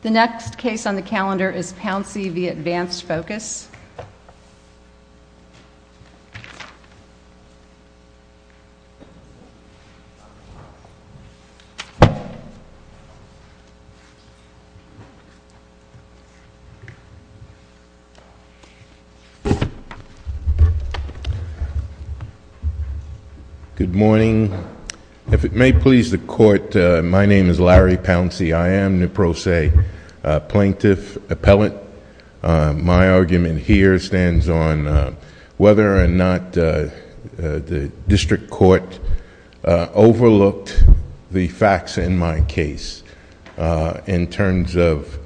The next case on the calendar is Pouncy v. Advanced Focus. Good morning. If it may please the Court, my name is Larry Pouncy. I am NEPROSA plaintiff appellant. My argument here stands on whether or not the district court overlooked the facts in my case in terms of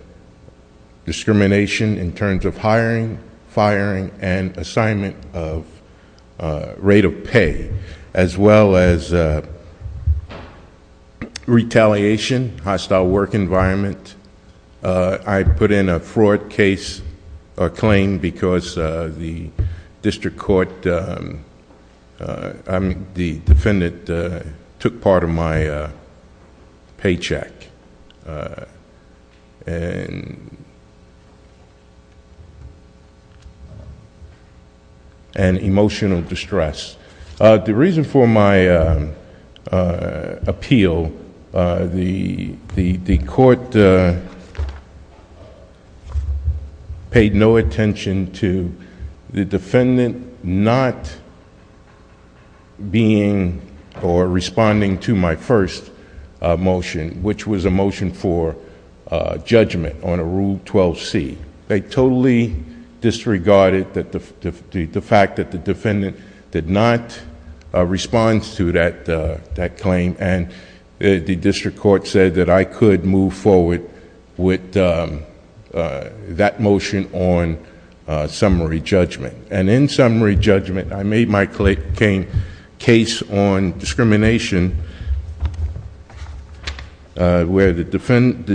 discrimination, in terms of hiring, firing and assignment of rate of pay as well as retaliation, hostile work environment. I put in a fraud case, a claim, because the defendant took part of my paycheck and emotional distress. The reason for my appeal, the court paid no attention to the defendant not being or responding to my first motion, which was a motion for judgment on a Rule 12c. They totally disregarded the fact that the defendant did not respond to that claim and the district court said that I could move forward with that motion on summary judgment. In summary judgment I made my case on discrimination where the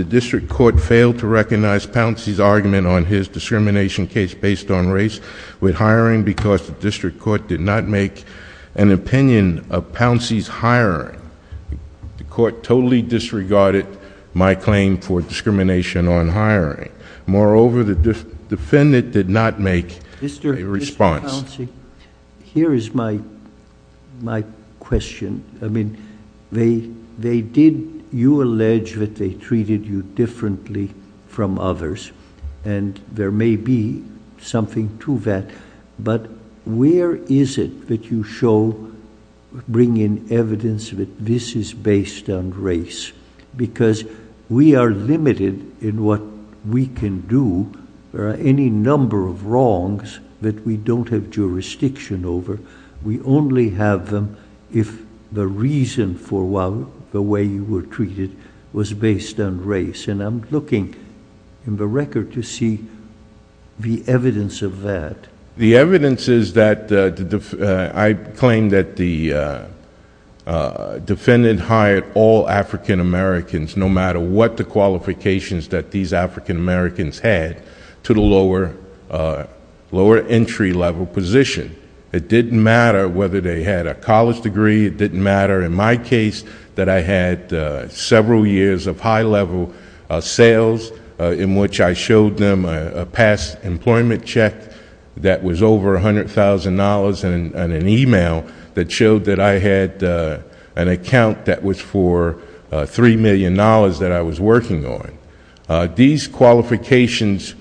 district court failed to recognize Pouncy's argument on his discrimination case based on race with Pouncy's hiring. The court totally disregarded my claim for discrimination on hiring. Moreover, the defendant did not make a response. Mr. Pouncy, here is my question. You allege that they treated you differently from others and there may be something to that, but where is it that you show, bring in evidence that this is based on race? Because we are limited in what we can do. There are any number of wrongs that we don't have jurisdiction over. We only have them if the reason for the way you were treated was based on race. I'm looking in the record to see the evidence of that. The evidence is that I claim that the defendant hired all African-Americans, no matter what the qualifications that these African-Americans had, to the lower entry level position. It didn't matter whether they had a college degree. It didn't matter in my case that I had several years of high-level sales in which I showed them a past employment check that was over $100,000 and an email that showed that I had an account that was for $3 million that I was working on. These qualifications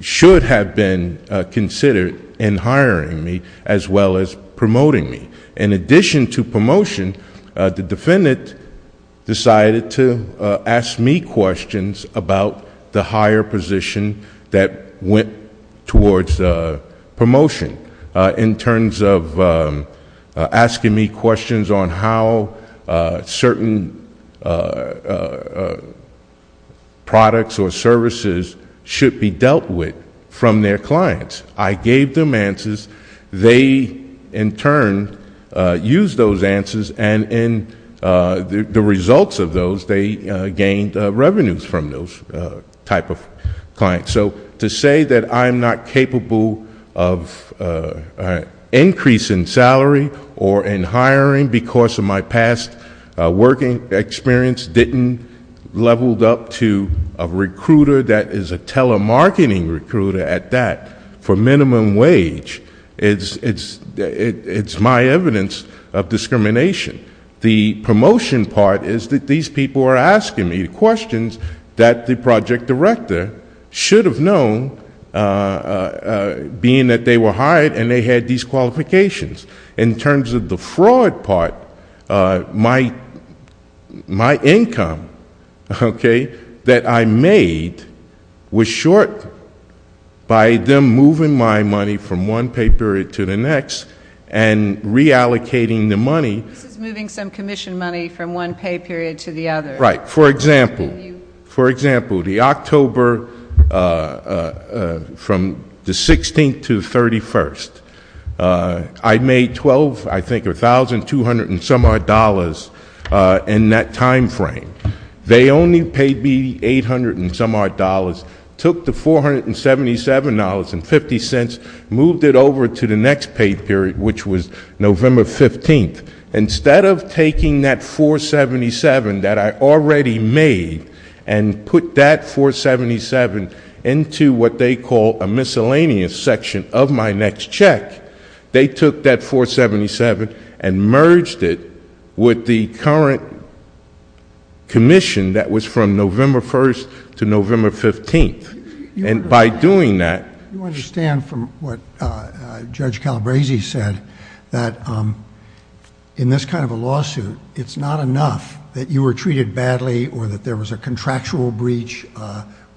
should have been considered in hiring me as well as promoting me. In addition to promotion, the defendant decided to ask me questions about the higher position that went towards promotion in terms of asking me questions on how certain products or services should be dealt with from their clients. I gave them answers. They, in turn, used those answers, and in the results of those, they gained revenues from those type of clients. So to say that I'm not capable of increasing salary or in hiring because of my past working experience didn't level up to a recruiter that is a telemarketing recruiter at that, for minimum wage, it's my evidence of discrimination. The promotion part is that these people are asking me questions that the project director should have known, being that they were hired and they had these qualifications. In terms of the fraud part, my income that I made was short by them moving my money from one pay period to the next and reallocating the money. This is moving some commission money from one pay period to the other. Right. For example, for example, the October from the 16th to the 31st, I made 12, I think, or $1,200-and-some-odd in that time frame. They only paid me $800-and-some-odd, took the $477.50, moved it over to the next pay period, which was November 15th. Instead of taking that $477 that I already made and put that $477 into what they call a miscellaneous section of my next check, they took that $477 and merged it with the current commission that was from November 1st to November 15th. By doing that... You understand from what Judge Calabresi said that in this kind of a lawsuit, it's not enough that you were treated badly or that there was a contractual breach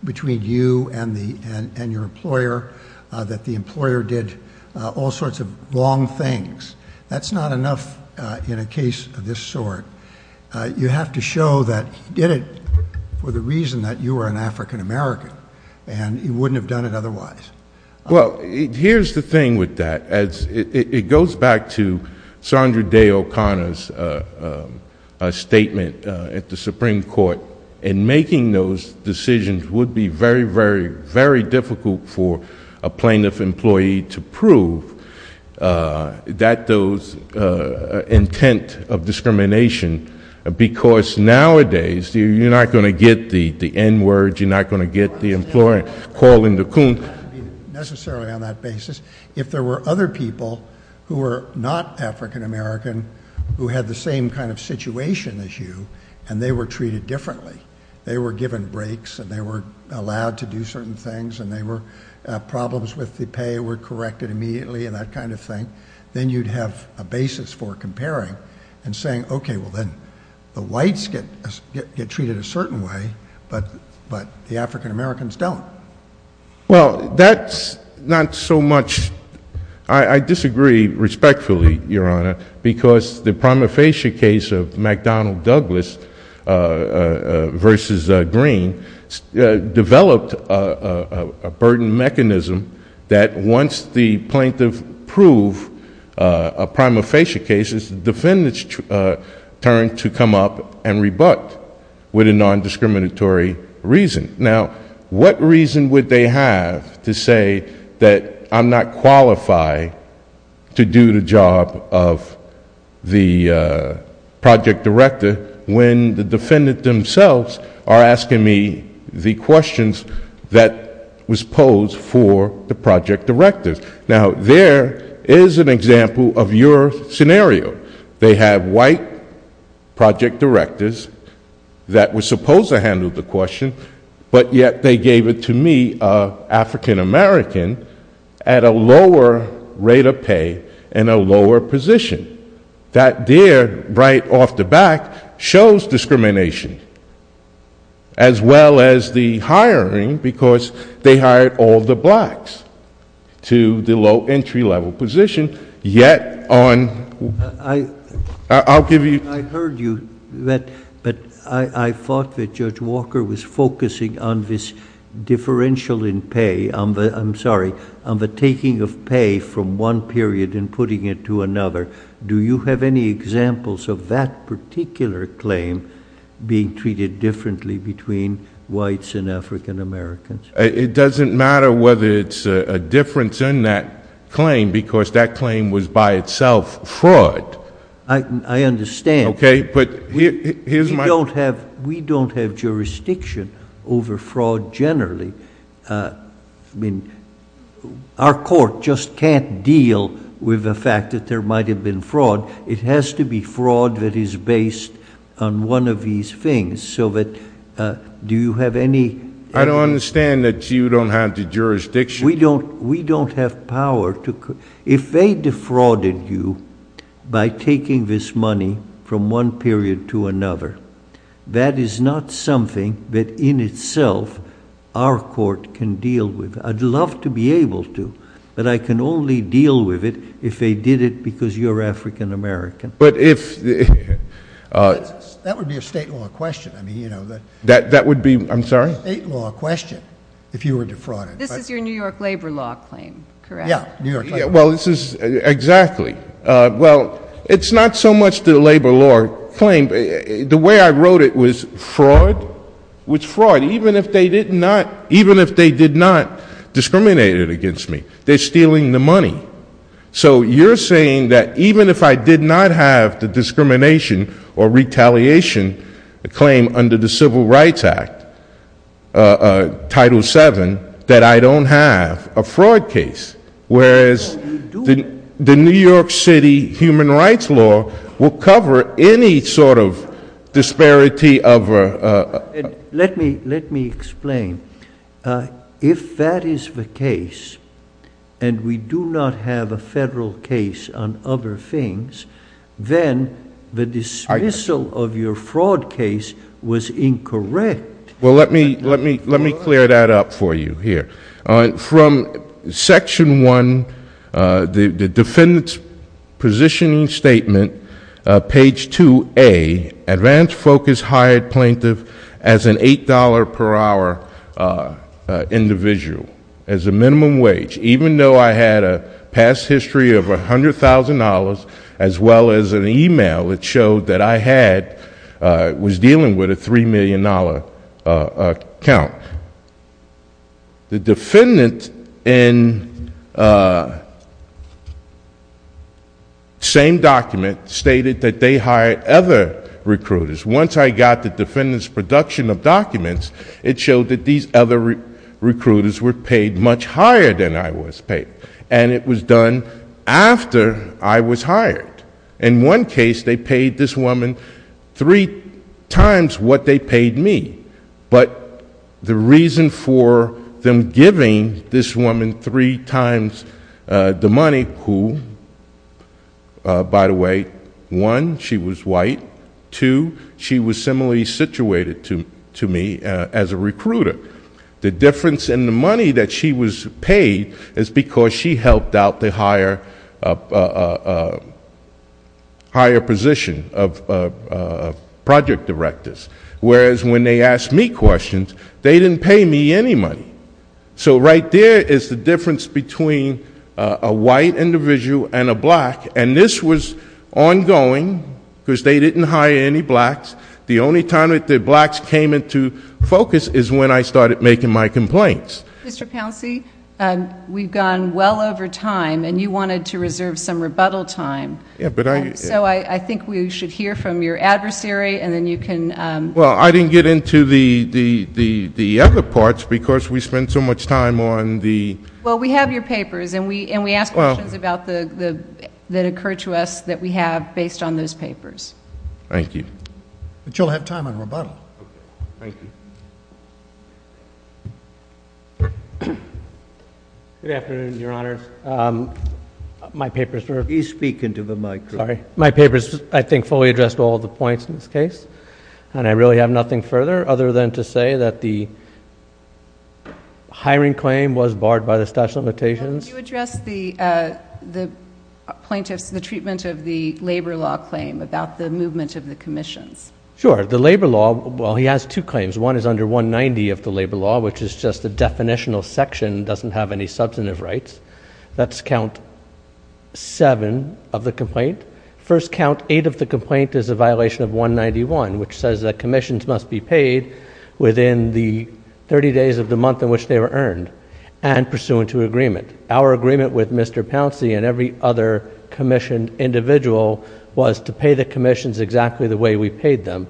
between you and your employer, that the employer did all sorts of wrong things. That's not enough in a case of this sort. You have to show that he did it for the reason that you are an African-American and he wouldn't have done it otherwise. Well, here's the thing with that. It goes back to Sandra Day O'Connor's statement at the Supreme Court. In making those decisions, it would be very, very, very difficult for a plaintiff employee to prove that those intent of discrimination, because nowadays, you're not going to get the N-word, you're not going to get the employer calling the coon... I don't mean necessarily on that basis. If there were other people who were not African-American who had the same kind of situation as you and they were treated differently, they were given breaks and they were allowed to do certain things and problems with the pay were corrected immediately and that kind of thing, then you'd have a basis for comparing and saying, okay, well then the whites get treated a certain way, but the African-Americans don't. Well, that's not so much... I disagree respectfully, Your Honor, because the prima facie case of McDonnell Douglas versus Green developed a burden mechanism that once the plaintiff proved a prima facie case, it's the defendant's turn to come up and rebut with a non-discriminatory reason. Now, what reason would they have to say that I'm not qualified to do the job of the project director when the defendant themselves are asking me the questions that was posed for the project directors? Now, there is an example of your scenario. They have white project directors that were supposed to handle the question, but yet they gave it to me, an African-American, at a lower rate of pay and a lower position. That there, right off the bat, shows discrimination, as well as the hiring, because they hired all the blacks to the low entry-level position, yet on... I'll give you... I heard you, but I thought that Judge Walker was focusing on this differential in pay, I'm sorry, on the taking of pay from one period and putting it to another. Do you have any examples of that particular claim being treated differently between whites and African-Americans? It doesn't matter whether it's a difference in that claim, because that claim was by itself fraud. I understand, but we don't have jurisdiction over fraud generally. I mean, our court just can't deal with the fact that there might have been fraud. It has to be fraud that is based on one of these things, so that... do you have any... I don't understand that you don't have the jurisdiction. We don't have power to... if they defrauded you by taking this money from one period to another, that is not something that, in itself, our court can deal with. I'd love to be able to, but I can only deal with it if they did it because you're African-American. But if... That would be a state law question. That would be... I'm sorry? That would be a state law question if you were defrauded. This is your New York labor law claim, correct? Yeah, New York labor law. Well, this is... exactly. Well, it's not so much the labor law claim. The way I wrote it was fraud was fraud, even if they did not discriminate it against me. They're stealing the money. So you're saying that even if I did not have the discrimination or retaliation under the Civil Rights Act, Title VII, that I don't have a fraud case, whereas the New York City human rights law will cover any sort of disparity of... Let me explain. If that is the case and we do not have a federal case on other things, then the dismissal of your fraud case was incorrect. Well, let me clear that up for you here. From Section I, the defendant's positioning statement, page 2A, advance focus hired plaintiff as an $8 per hour individual as a minimum wage, even though I had a past history of $100,000 as well as an email that showed that I was dealing with a $3 million account. The defendant in the same document stated that they hired other recruiters. Once I got the defendant's production of documents, it showed that these other recruiters were paid much higher than I was paid. And it was done after I was hired. In one case, they paid this woman three times what they paid me. But the reason for them giving this woman three times the money, who, by the way, one, she was white, two, she was situated to me as a recruiter. The difference in the money that she was paid is because she helped out the higher position of project directors. Whereas when they asked me questions, they didn't pay me any money. So right there is the difference between a white individual and a black. And this was ongoing, because they didn't hire any blacks. The only time that the blacks came into focus is when I started making my complaints. Mr. Pouncey, we've gone well over time, and you wanted to reserve some rebuttal time. Yeah, but I— So I think we should hear from your adversary, and then you can— Well, I didn't get into the other parts, because we spent so much time on the— Well, we have your papers, and we ask questions that occur to us that we have based on those papers. Thank you. But you'll have time on rebuttal. Thank you. Good afternoon, Your Honors. My papers were— Please speak into the microphone. Sorry. My papers, I think, fully addressed all the points in this case, and I really have nothing further other than to say that the You addressed the plaintiff's, the treatment of the labor law claim about the movement of the commissions. Sure. The labor law, well, he has two claims. One is under 190 of the labor law, which is just a definitional section, doesn't have any substantive rights. That's count seven of the complaint. First count eight of the complaint is a violation of 191, which says that commissions must be paid within the 30 days of the month in which they were earned, and pursuant to agreement. Our agreement with Mr. Pouncey and every other commissioned individual was to pay the commissions exactly the way we paid them,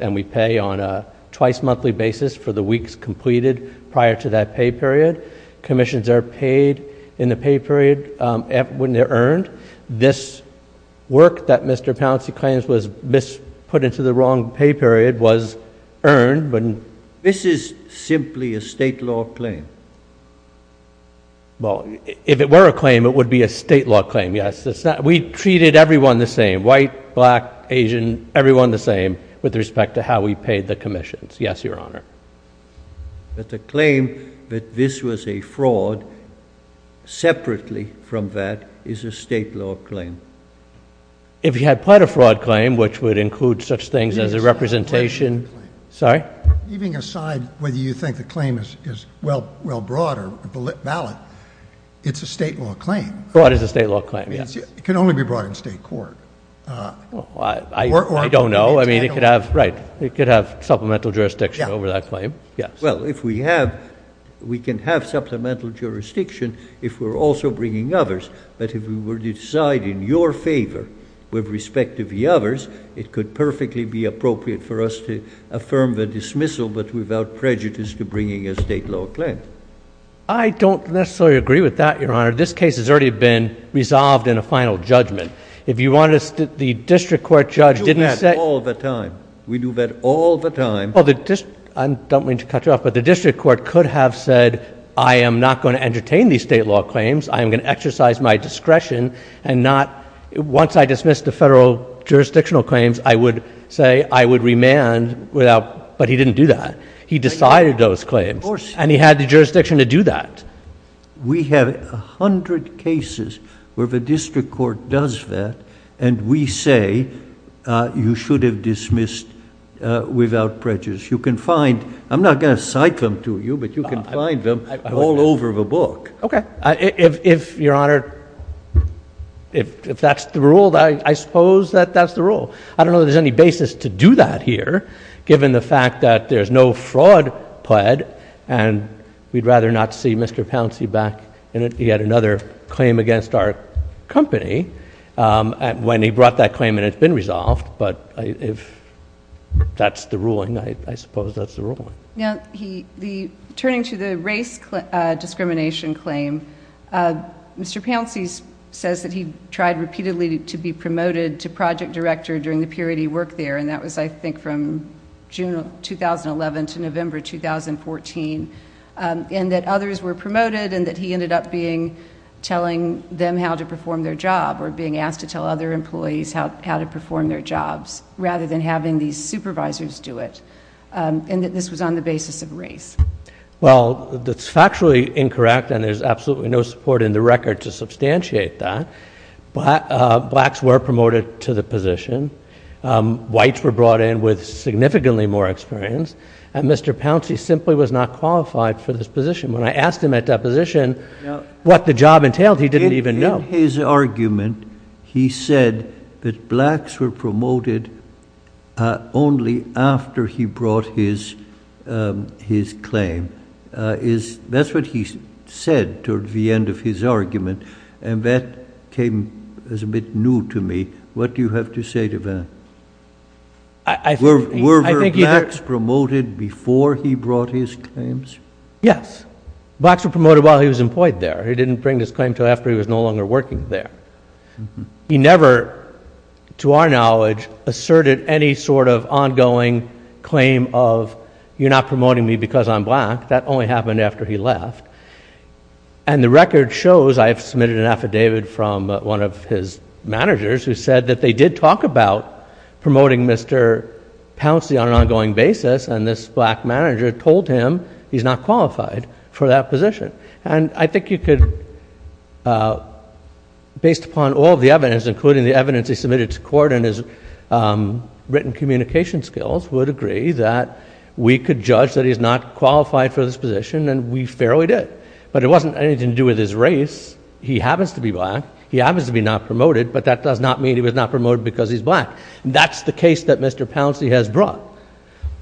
and we pay on a twice monthly basis for the weeks completed prior to that pay period. Commissions are paid in the pay period when they're earned. This work that Mr. Pouncey claims was misput into the wrong pay period was earned. This is simply a state law claim. Well, if it were a claim, it would be a state law claim. Yes, we treated everyone the same, white, black, Asian, everyone the same with respect to how we paid the commissions. Yes, Your Honor. But the claim that this was a fraud separately from that is a state law claim. If you had pled a fraud claim, which would include such things as a representation. Sorry? Leaving aside whether you think the claim is well brought or valid, it's a state law claim. Brought is a state law claim, yes. It can only be brought in state court. I don't know. I mean, it could have, right, it could have supplemental jurisdiction over that claim. Yes. Well, if we have, we can have supplemental jurisdiction if we're also bringing others, but if we were to decide in your favor with respect to the others, it could perfectly be appropriate for us to affirm the dismissal, but without prejudice to bringing a state law claim. I don't necessarily agree with that, Your Honor. This case has already been resolved in a final judgment. If you wanted us to, the district court judge didn't say. All the time. We do that all the time. I don't mean to cut you off, but the district court could have said, I am not going to entertain these state law claims. I am going to exercise my discretion and not, once I dismiss the federal jurisdictional claims, I would say I would remand without, but he didn't do that. He decided those claims and he had the jurisdiction to do that. We have a hundred cases where the district court does that and we say, you should have dismissed without prejudice. You can find, I'm not going to cite them to you, but you can find them all over the book. Okay. If, Your Honor, if that's the rule, I suppose that that's the rule. I don't know that there's any basis to do that here, given the fact that there's no fraud pled, and we'd rather not see Mr. Pouncey back in it. He had another claim against our company when he brought that claim and it's been resolved, but if that's the ruling, I suppose that's the ruling. Now, he, the, turning to the race discrimination claim, Mr. Pouncey says that he tried repeatedly to be promoted to project director during the period he worked there, and that was, I think, from June of 2011 to November 2014, and that others were promoted and that he ended up being, telling them how to perform their job, or being asked to tell other employees how to perform their jobs, rather than having these supervisors do it, and that this was on the basis of race. Well, that's factually incorrect, and there's absolutely no support in the record to substantiate that, but blacks were promoted to the position, whites were brought in with significantly more experience, and Mr. Pouncey simply was not qualified for this position. When I asked him at that position what the job entailed, he didn't even know. In his argument, he said that blacks were promoted only after he brought his claim. That's what he said toward the end of his argument, and that came as a bit new to me. What do you have to say to that? Were blacks promoted before he brought his claims? Yes. Blacks were promoted while he was employed there. He didn't bring his claim until after he was no longer working there. He never, to our knowledge, asserted any sort of ongoing claim of, you're not promoting me because I'm black. That only happened after he left. And the record shows, I have submitted an affidavit from one of his managers who said that they did talk about promoting Mr. Pouncey on an ongoing basis, and this black manager told him he's not qualified for that position. And I think you could, based upon all the evidence, including the evidence he submitted to court and his written communication skills, would agree that we could judge that he's not qualified for this position, and we fairly did. But it wasn't anything to do with his race. He happens to be black. He happens to be not promoted, but that does not mean he was not promoted because he's black. That's the case that Mr. Pouncey has brought.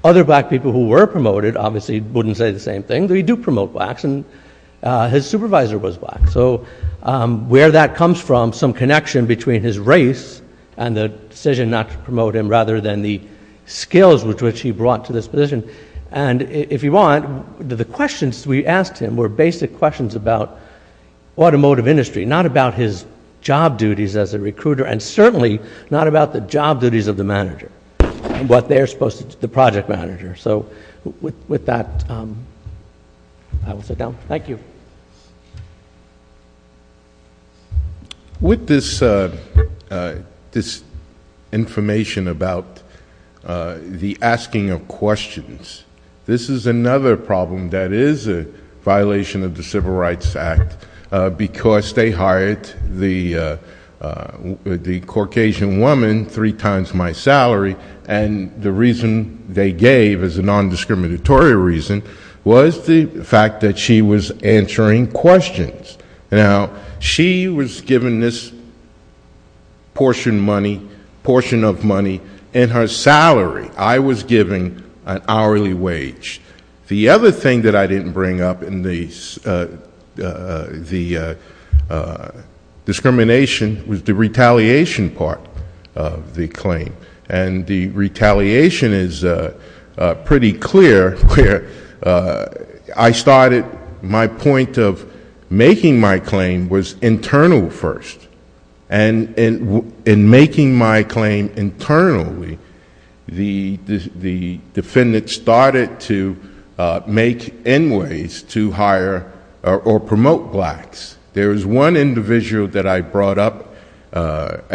Other black people who were promoted obviously wouldn't say the same thing. They do promote blacks, and his supervisor was black. So where that comes from, some connection between his race and the decision not to promote him, rather than the skills with which he brought to this position. And if you want, the questions we asked him were basic questions about automotive industry, not about his job duties as a recruiter, and certainly not about the job duties of the manager, what they're supposed to do, the project manager. So with that, I will sit down. Thank you. With this information about the asking of questions, this is another problem that is a problem with the Civil Rights Act, because they hired the Caucasian woman three times my salary, and the reason they gave, as a non-discriminatory reason, was the fact that she was answering questions. Now, she was given this portion of money in her salary. I was given an hourly wage. The other thing that I didn't bring up in the discrimination was the retaliation part of the claim. And the retaliation is pretty clear, where I started, my point of making my claim was make in ways to hire or promote blacks. There is one individual that I brought up,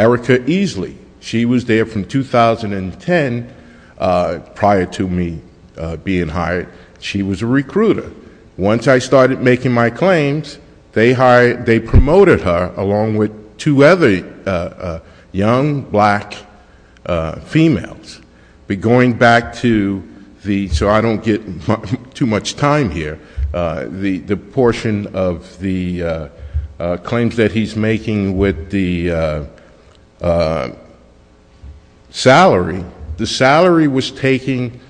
Erica Easley. She was there from 2010, prior to me being hired. She was a recruiter. Once I started making my claims, they promoted her along with two other young black females. But going back to the, so I don't get too much time here, the portion of the claims that he's making with the salary, the salary was taken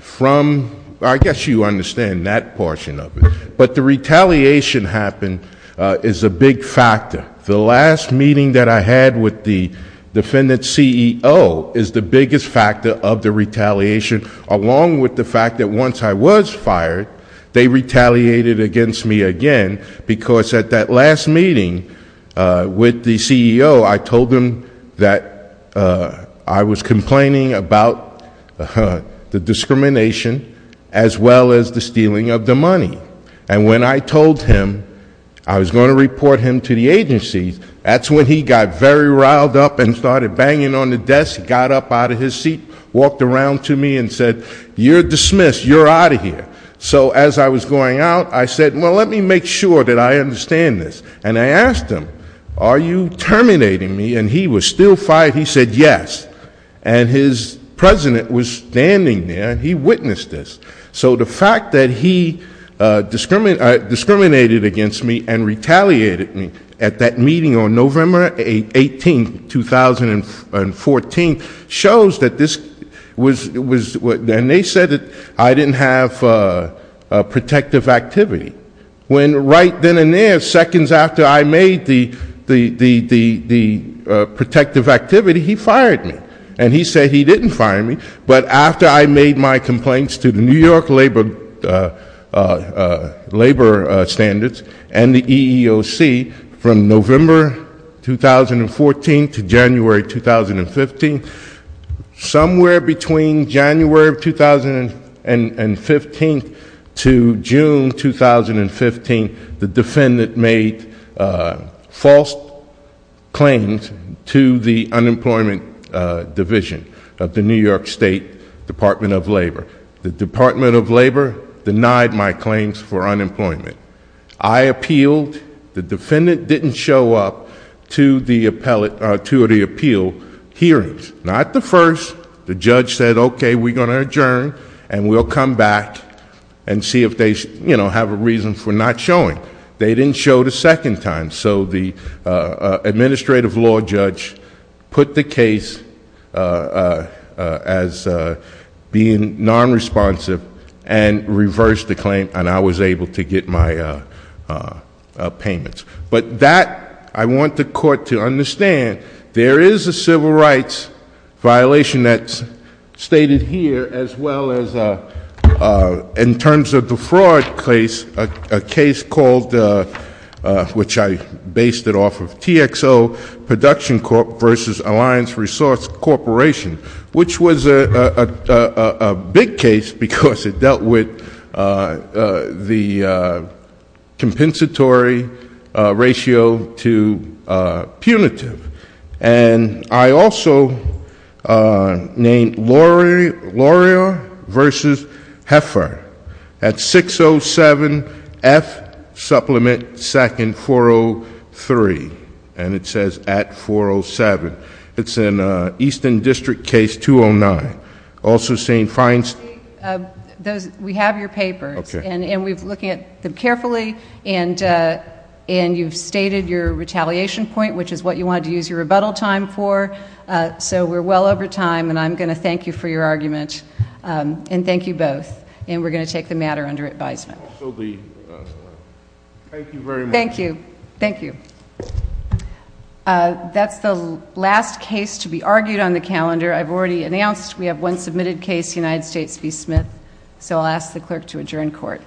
from, I guess you understand that portion of it, but the retaliation happened is a big factor. The last meeting that I had with the defendant's CEO is the biggest factor of the retaliation, along with the fact that once I was fired, they retaliated against me again because at that last meeting with the CEO, I told him that I was complaining about the discrimination as well as the stealing of the money. And when I told him I was going to report him to the agency, that's when he got very riled up and started banging on the desk, got up out of his seat, walked around to me and said, you're dismissed, you're out of here. So as I was going out, I said, well, let me make sure that I understand this. And I asked him, are you terminating me? And he was still fired. He said yes. And his president was standing there and he witnessed this. So the fact that he discriminated against me and retaliated me at that meeting on November 18, 2014, shows that this was, and they said that I didn't have a protective activity. When right then and seconds after I made the protective activity, he fired me. And he said he didn't fire me, but after I made my complaints to the New York Labor Standards and the EEOC from November 2014 to January 2015, somewhere between January 2015 to June 2015, the defendant made false claims to the unemployment division of the New York State Department of Labor. The Department of Labor denied my claims for unemployment. I appealed. The defendant didn't show up to the appeal hearings. Not the first. The judge said, okay, we're going to adjourn and we'll come back and see if they have a reason for not showing. They didn't show the second time. So the non-responsive and reversed the claim and I was able to get my payments. But that, I want the court to understand, there is a civil rights violation that's stated here as well as in terms of the fraud case, a case called, which I based it off of, TXO Production Corp versus Alliance Resource Corporation, which was a big case because it dealt with the compensatory ratio to punitive. And I also named Laurier versus Heffer at 607 F supplement second 403. And it says at 407. It's in Easton District case 209. Also saying fines. We have your papers and we've looked at them carefully and you've stated your retaliation point, which is what you wanted to use your rebuttal time for. So we're well over time and I'm going to thank you for your argument. And thank you both. And we're going to take the uh, that's the last case to be argued on the calendar. I've already announced we have one submitted case, United States v. Smith. So I'll ask the clerk to adjourn court.